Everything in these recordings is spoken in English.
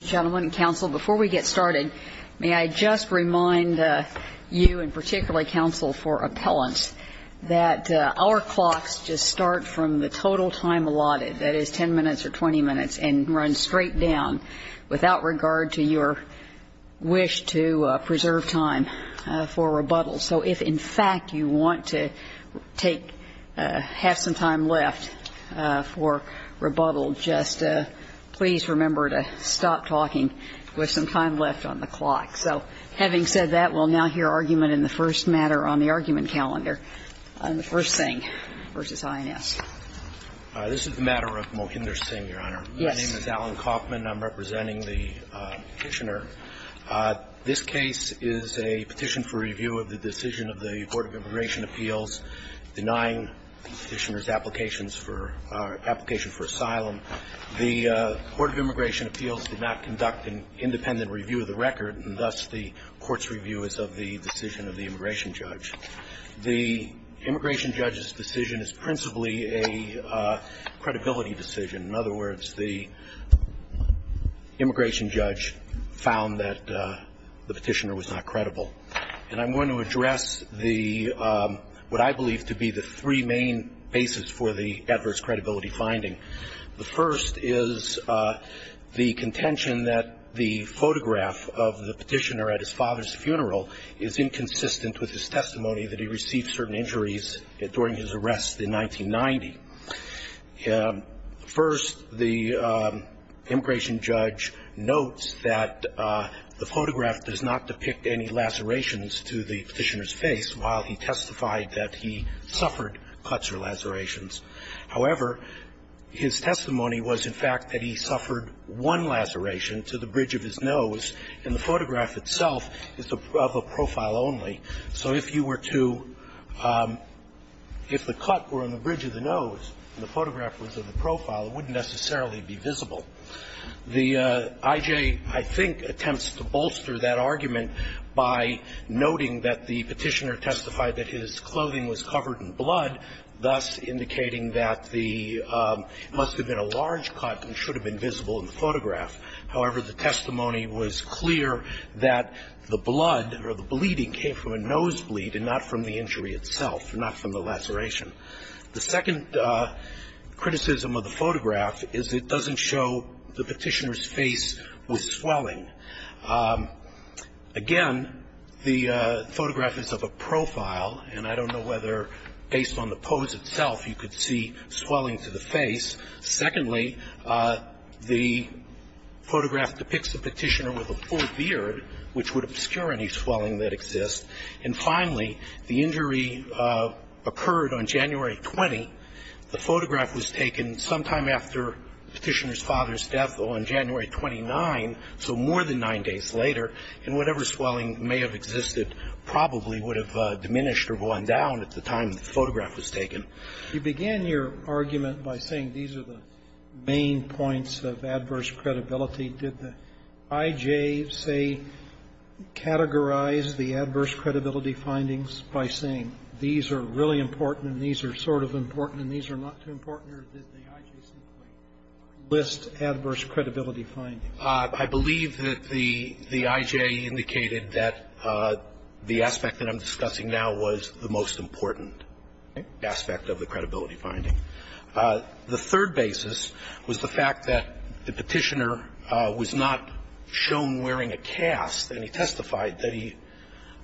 Before we get started, may I just remind you and particularly counsel for appellants that our clocks just start from the total time allotted, that is 10 minutes or 20 minutes, and run straight down without regard to your wish to preserve time for rebuttal. So if, in fact, you want to have some time left for rebuttal, just please remember to stop talking with some time left on the clock. So having said that, we'll now hear argument in the first matter on the argument calendar on the first thing versus INS. This is the matter of Mohinder Singh, Your Honor. Yes. My name is Alan Kaufman. I'm representing the Petitioner. This case is a petition for review of the decision of the Court of Immigration Appeals denying the Petitioner's application for asylum. The Court of Immigration Appeals did not conduct an independent review of the record, and thus the Court's review is of the decision of the immigration judge. The immigration judge's decision is principally a credibility decision. In other words, the immigration judge found that the Petitioner was not credible. And I'm going to address the, what I believe to be the three main bases for the adverse credibility finding. The first is the contention that the photograph of the Petitioner at his father's funeral is inconsistent with his testimony that he received certain injuries during his arrest in 1990. First, the immigration judge notes that the photograph does not depict any lacerations to the Petitioner's face while he testified that he suffered cuts or lacerations. However, his testimony was, in fact, that he suffered one laceration to the bridge of his nose, and the photograph itself is of a profile only. So if you were to, if the cut were on the bridge of the nose and the photograph was of the profile, it wouldn't necessarily be visible. The I.J., I think, attempts to bolster that argument by noting that the Petitioner testified that his clothing was covered in blood, thus indicating that the, must have been a large cut and should have been visible in the photograph. However, the testimony was clear that the blood or the bleeding came from a nosebleed and not from the injury itself, not from the laceration. The second criticism of the photograph is it doesn't show the Petitioner's face with swelling. Again, the photograph is of a profile, and I don't know whether based on the pose itself you could see swelling to the face. Secondly, the photograph depicts the Petitioner with a full beard, which would obscure any swelling that exists. And finally, the injury occurred on January 20. The photograph was taken sometime after Petitioner's father's death on January 29, so more than nine days later, and whatever swelling may have existed probably would have diminished or gone down at the time the photograph was taken. You began your argument by saying these are the main points of adverse credibility. Did the I.J. say, categorize the adverse credibility findings by saying these are really important and these are sort of important and these are not too important, or did the I.J. simply list adverse credibility findings? I believe that the I.J. indicated that the aspect that I'm discussing now was the most important aspect of the credibility finding. The third basis was the fact that the Petitioner was not shown wearing a cast, and he testified that he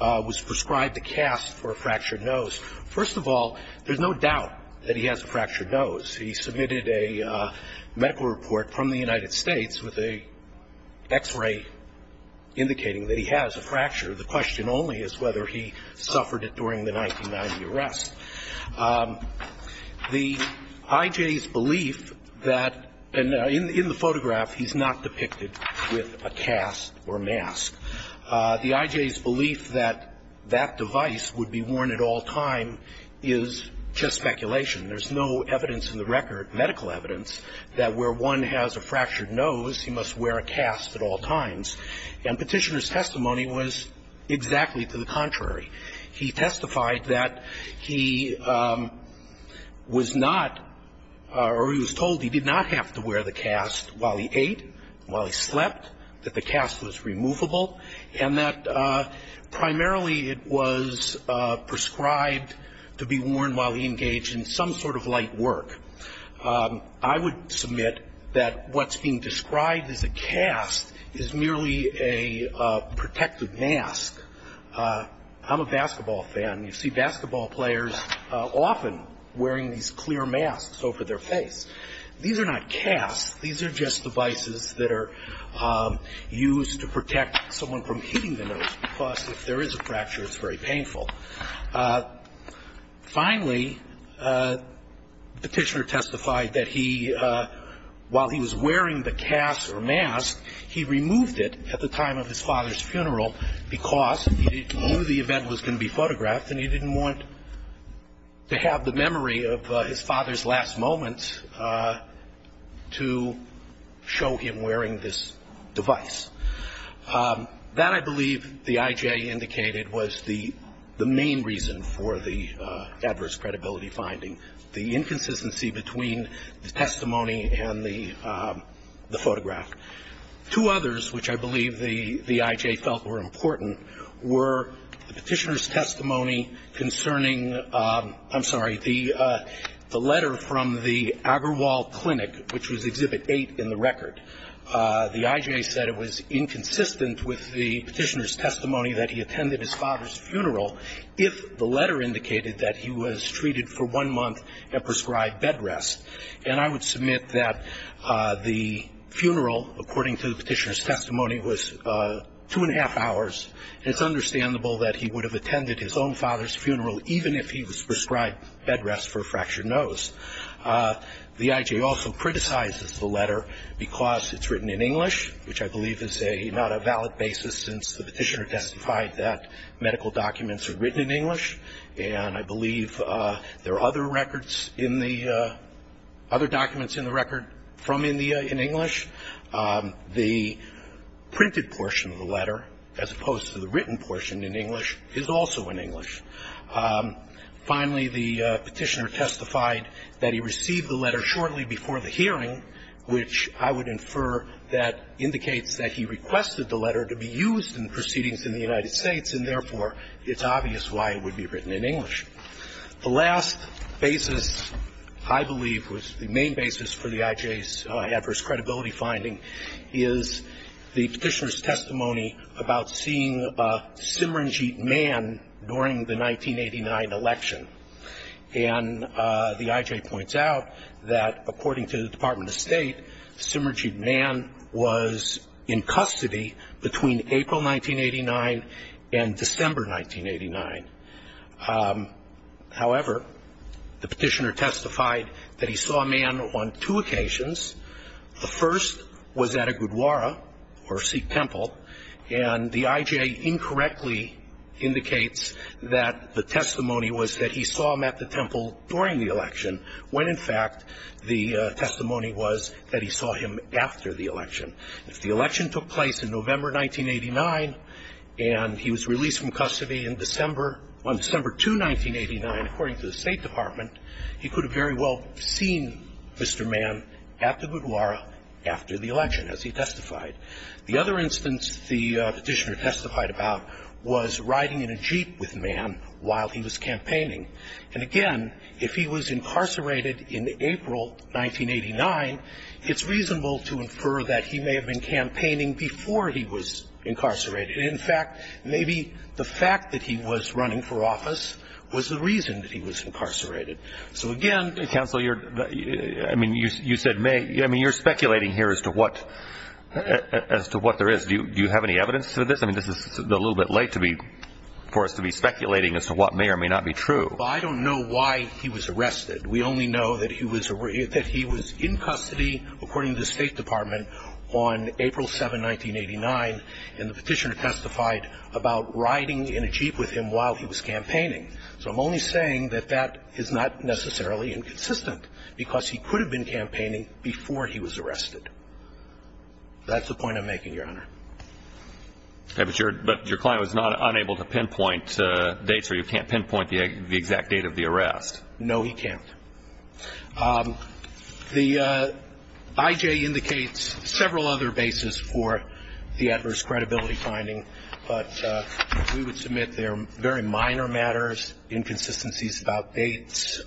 was prescribed a cast for a fractured nose. First of all, there's no doubt that he has a fractured nose. He submitted a medical report from the United States with an X-ray indicating that he has a fracture. The question only is whether he suffered it during the 1990 arrest. The I.J.'s belief that, and in the photograph he's not depicted with a cast or mask, the I.J.'s belief that that device would be worn at all time is just speculation. There's no evidence in the record, medical evidence, that where one has a fractured nose, he must wear a cast at all times. And Petitioner's testimony was exactly to the contrary. He testified that he was not, or he was told he did not have to wear the cast while he ate, while he slept, that the cast was removable, and that primarily it was prescribed to be worn while he engaged in some sort of light work. I would submit that what's being described as a cast is merely a protective mask. I'm a basketball fan. You see basketball players often wearing these clear masks over their face. These are not casts. These are just devices that are used to protect someone from hitting the nose, because if there is a fracture, it's very painful. Finally, Petitioner testified that he, while he was wearing the cast or mask, he removed it at the time of his father's funeral because he knew the event was going to be photographed and he didn't want to have the memory of his father's last moments to show him wearing this device. That, I believe, the IJ indicated, was the main reason for the adverse credibility finding, the inconsistency between the testimony and the photograph. Two others, which I believe the IJ felt were important, were the Petitioner's testimony concerning, I'm sorry, the letter from the Agrawal Clinic, which was Exhibit 8 in the record. The IJ said it was inconsistent with the Petitioner's testimony that he attended his father's funeral if the letter indicated that he was treated for one month and prescribed bed rest. And I would submit that the funeral, according to the Petitioner's testimony, was two and a half hours. It's understandable that he would have attended his own father's funeral, even if he was prescribed bed rest for a fractured nose. The IJ also criticizes the letter because it's written in English, which I believe is not a valid basis since the Petitioner testified that medical documents are written in English. And I believe there are other records in the other documents in the record from India in English. The printed portion of the letter, as opposed to the written portion in English, is also in English. Finally, the Petitioner testified that he received the letter shortly before the hearing, which I would infer that indicates that he requested the letter to be used in proceedings in the United States, and therefore, it's obvious why it would be written in English. The last basis I believe was the main basis for the IJ's adverse credibility finding is the Petitioner's testimony about seeing Simranjit Mann during the 1989 election. And the IJ points out that, according to the Department of State, Simranjit Mann was in custody between April 1989 and December 1989. However, the Petitioner testified that he saw Mann on two occasions. The first was at a Gurdwara, or Sikh temple, and the IJ incorrectly indicates that the testimony was that he saw him at the temple during the election, when, in fact, the testimony was that he saw him after the election. If the election took place in November 1989 and he was released from custody in December on December 2, 1989, according to the State Department, he could have very well seen Mr. Mann at the Gurdwara after the election, as he testified. The other instance the Petitioner testified about was riding in a Jeep with Mann while he was campaigning. And, again, if he was incarcerated in April 1989, it's reasonable to infer that he may have been campaigning before he was incarcerated. In fact, maybe the fact that he was running for office was the reason that he was incarcerated. So, again ---- Counsel, I mean, you said may. I mean, you're speculating here as to what there is. Do you have any evidence to this? I mean, this is a little bit late for us to be speculating as to what may or may not be true. Well, I don't know why he was arrested. We only know that he was in custody, according to the State Department, on April 7, 1989, and the Petitioner testified about riding in a Jeep with him while he was campaigning. So I'm only saying that that is not necessarily inconsistent That's the point I'm making, Your Honor. But your client was unable to pinpoint dates, or you can't pinpoint the exact date of the arrest. No, he can't. The IJ indicates several other bases for the adverse credibility finding, but we would submit they are very minor matters, inconsistencies about dates.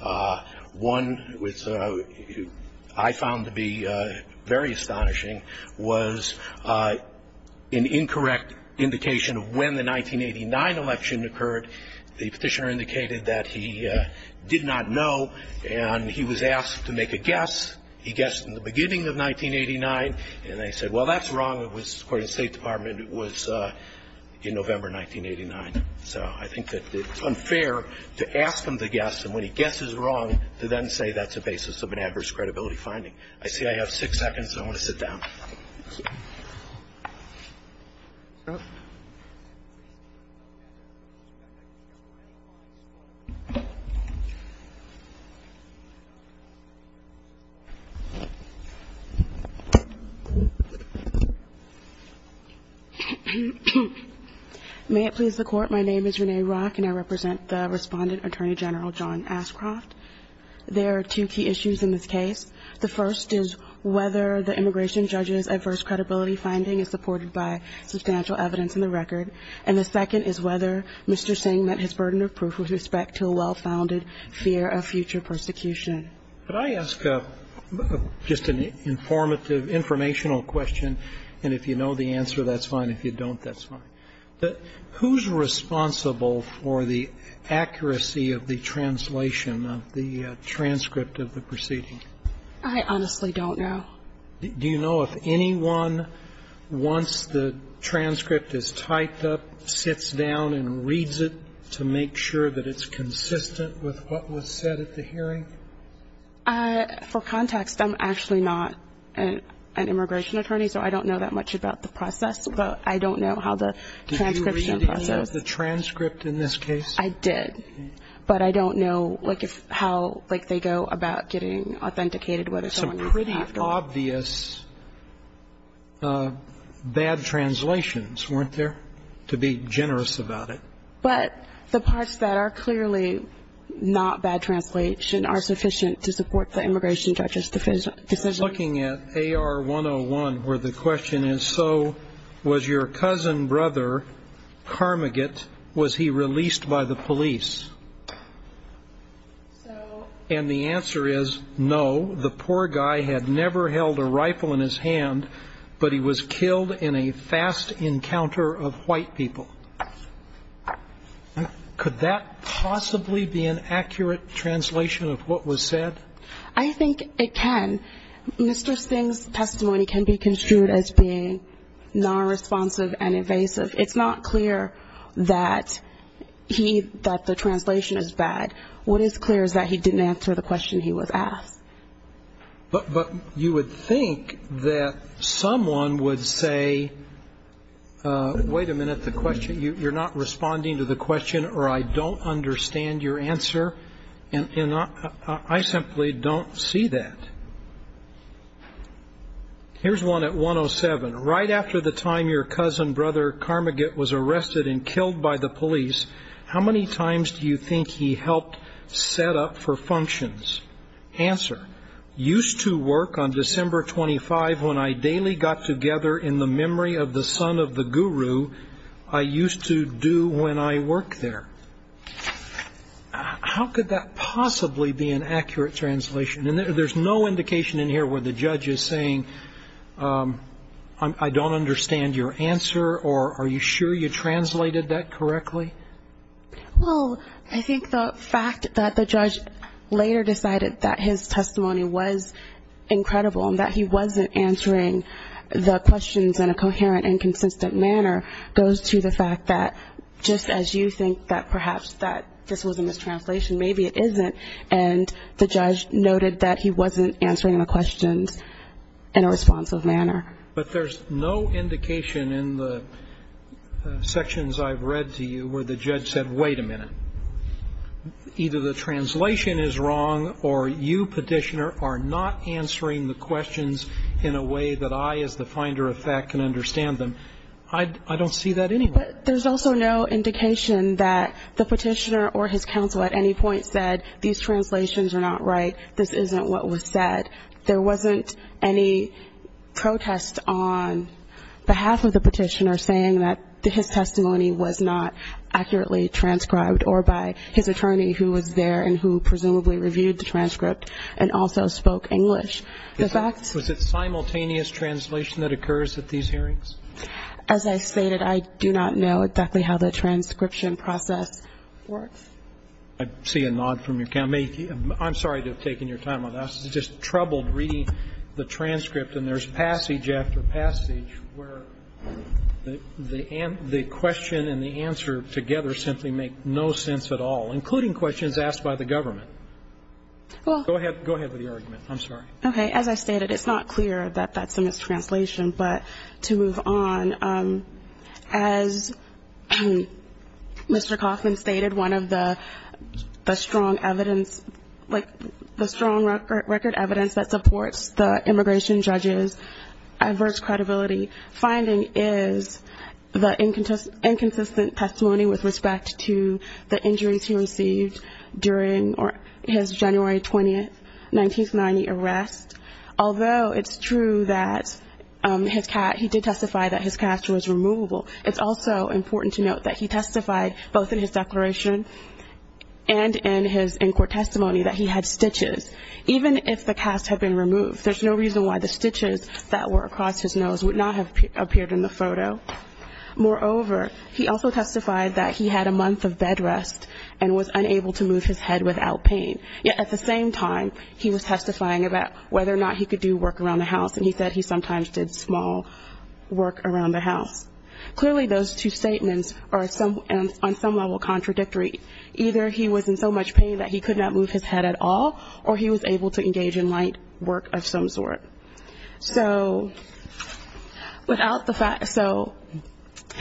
One, which I found to be very astonishing, was an incorrect indication of when the 1989 election occurred. The Petitioner indicated that he did not know, and he was asked to make a guess. He guessed in the beginning of 1989, and they said, well, that's wrong. It was, according to the State Department, it was in November 1989. So I think that it's unfair to ask him to guess, and when he guesses wrong, to then say that's a basis of an adverse credibility finding. I see I have six seconds, and I want to sit down. May it please the Court. My name is Renee Rock, and I represent the Respondent Attorney General, John Ashcroft. There are two key issues in this case. The first is whether the immigration judge's adverse credibility finding is supported by substantial evidence in the record, and the second is whether Mr. Singh met his burden of proof with respect to a well-founded fear of future persecution. Could I ask just an informative, informational question, and if you know the answer, that's fine. If you don't, that's fine. Who's responsible for the accuracy of the translation of the transcript of the proceeding? I honestly don't know. Do you know if anyone, once the transcript is typed up, sits down and reads it to make sure that it's consistent with what was said at the hearing? For context, I'm actually not an immigration attorney, so I don't know that much about the process, but I don't know how the transcription process. Did you read the transcript in this case? I did, but I don't know how they go about getting authenticated, whether someone could have to. Some pretty obvious bad translations, weren't there, to be generous about it? But the parts that are clearly not bad translation are sufficient to support the immigration judge's decision. I was looking at AR-101, where the question is, so was your cousin brother, Carmageddon, was he released by the police? And the answer is, no, the poor guy had never held a rifle in his hand, but he was killed in a fast encounter of white people. Could that possibly be an accurate translation of what was said? I think it can. Mr. Singh's testimony can be construed as being nonresponsive and evasive. It's not clear that he, that the translation is bad. What is clear is that he didn't answer the question he was asked. But you would think that someone would say, wait a minute, the question, you're not responding to the question, or I don't understand your answer. And I simply don't see that. Here's one at 107. Right after the time your cousin brother Carmageddon was arrested and killed by the police, how many times do you think he helped set up for functions? Answer. Used to work on December 25 when I daily got together in the memory of the son of the guru I used to do when I worked there. How could that possibly be an accurate translation? And there's no indication in here where the judge is saying, I don't understand your answer, or are you sure you translated that correctly? Well, I think the fact that the judge later decided that his testimony was incredible and that he wasn't answering the questions in a coherent and consistent manner goes to the fact that just as you think that perhaps this was a mistranslation, maybe it isn't, and the judge noted that he wasn't answering the questions in a responsive manner. But there's no indication in the sections I've read to you where the judge said, wait a minute, either the translation is wrong or you, Petitioner, are not answering the questions in a way that I, as the finder of fact, can understand them. I don't see that anywhere. But there's also no indication that the Petitioner or his counsel at any point said, these translations are not right, this isn't what was said. There wasn't any protest on behalf of the Petitioner saying that his testimony was not accurately transcribed or by his attorney who was there and who presumably reviewed the transcript and also spoke English. Was it simultaneous translation that occurs at these hearings? As I stated, I do not know exactly how the transcription process works. I see a nod from your counsel. I'm sorry to have taken your time on this. I was just troubled reading the transcript. And there's passage after passage where the question and the answer together simply make no sense at all, including questions asked by the government. Go ahead with the argument. I'm sorry. Okay. As I stated, it's not clear that that's a mistranslation. But to move on, as Mr. Coffman stated, one of the strong evidence, like the strong record evidence that supports the immigration judge's adverse credibility finding is the inconsistent testimony with respect to the injuries he received during his January 20, 1990 arrest. Although it's true that he did testify that his cast was removable, it's also important to note that he testified both in his declaration and in his in-court testimony that he had stitches. Even if the casts had been removed, there's no reason why the stitches that were across his nose would not have appeared in the photo. Moreover, he also testified that he had a month of bed rest and was unable to move his head without pain. Yet at the same time, he was testifying about whether or not he could do work around the house, and he said he sometimes did small work around the house. Clearly those two statements are on some level contradictory. Either he was in so much pain that he could not move his head at all, or he was able to engage in light work of some sort. So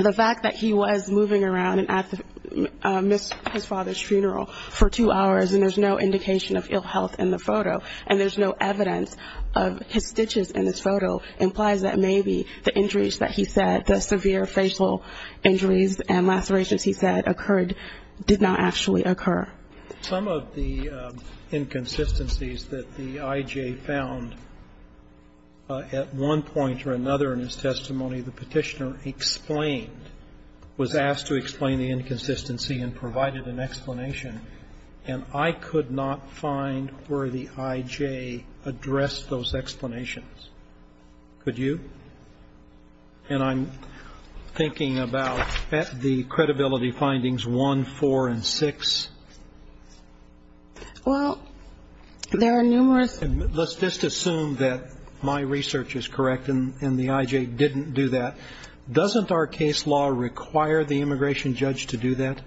the fact that he was moving around and missed his father's funeral for two hours, and there's no indication of ill health in the photo, and there's no evidence of his stitches in this photo implies that maybe the injuries that he said, the severe facial injuries and lacerations he said occurred did not actually occur. Some of the inconsistencies that the I.J. found at one point or another in his testimony, the Petitioner explained, was asked to explain the inconsistency and provided an explanation, and I could not find where the I.J. addressed those explanations. Could you? And I'm thinking about the credibility findings one, four, and six. Well, there are numerous. Let's just assume that my research is correct and the I.J. didn't do that. Doesn't our case law require the immigration judge to do that?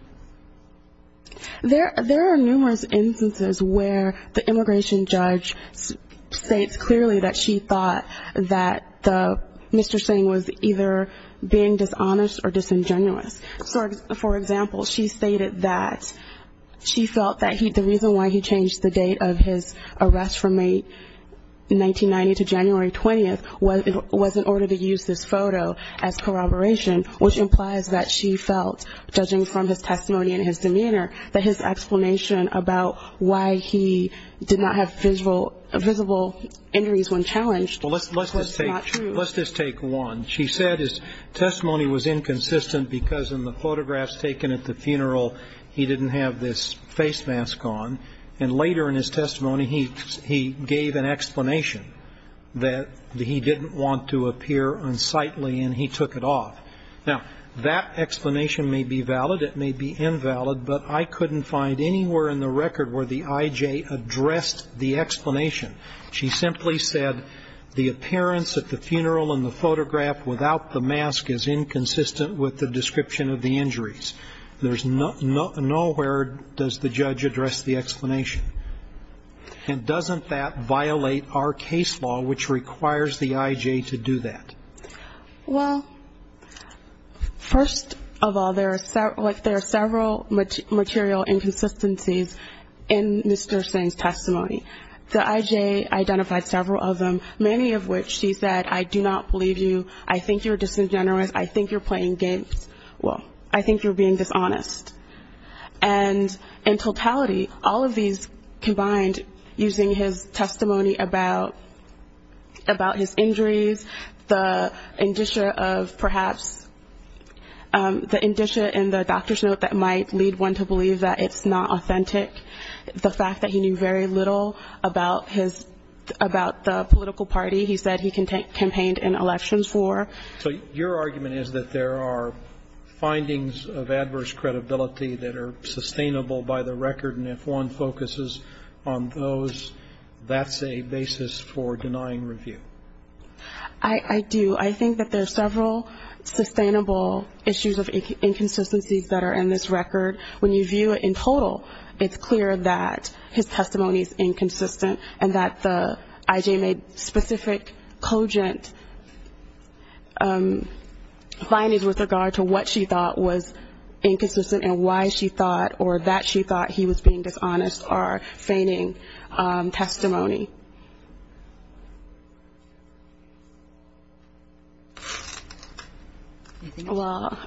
There are numerous instances where the immigration judge states clearly that she thought that Mr. Singh was either being dishonest or disingenuous. For example, she stated that she felt that the reason why he changed the date of his arrest from May 1990 to January 20th was in order to use this photo as corroboration, which implies that she felt, judging from his testimony and his demeanor, that his explanation about why he did not have visible injuries when challenged was not true. Well, let's just take one. She said his testimony was inconsistent because in the photographs taken at the funeral, he didn't have this face mask on, and later in his testimony, he gave an explanation that he didn't want to appear unsightly, and he took it off. Now, that explanation may be valid, it may be invalid, but I couldn't find anywhere in the record where the I.J. addressed the explanation. She simply said the appearance at the funeral in the photograph without the mask is inconsistent with the description of the injuries. Nowhere does the judge address the explanation. And doesn't that violate our case law, which requires the I.J. to do that? Well, first of all, there are several material inconsistencies in Mr. Singh's testimony. The I.J. identified several of them, many of which she said, I do not believe you, I think you're disingenuous, I think you're playing games, well, I think you're being dishonest. And in totality, all of these combined, using his testimony about his injuries, the indicia of perhaps the indicia in the doctor's note that might lead one to believe that it's not authentic, the fact that he knew very little about the political party he said he campaigned in elections for. So your argument is that there are findings of adverse credibility that are sustainable by the record, and if one focuses on those, that's a basis for denying review? I do. I think that there are several sustainable issues of inconsistencies that are in this record. When you view it in total, it's clear that his testimony is inconsistent and that the I.J. made specific, cogent findings with regard to what she thought was inconsistent and why she thought or that she thought he was being dishonest are feigning testimony. Well,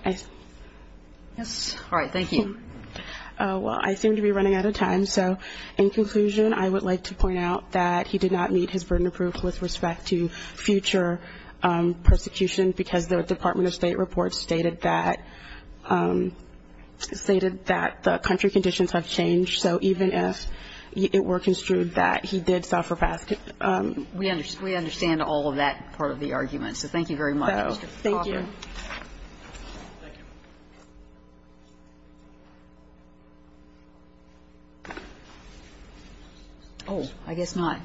I seem to be running out of time, so in conclusion, I would like to point out that he did not meet his burden of proof with respect to future persecution because the Department of State report stated that the country conditions have changed, so even if it were construed that he did suffer past the conditions. We understand all of that part of the argument. So thank you very much, Mr. Cochran. Thank you. Oh, I guess not.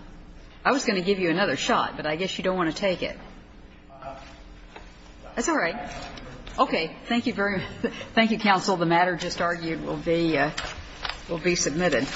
I was going to give you another shot, but I guess you don't want to take it. That's all right. Okay. Thank you very much. Thank you, counsel. The matter just argued will be submitted.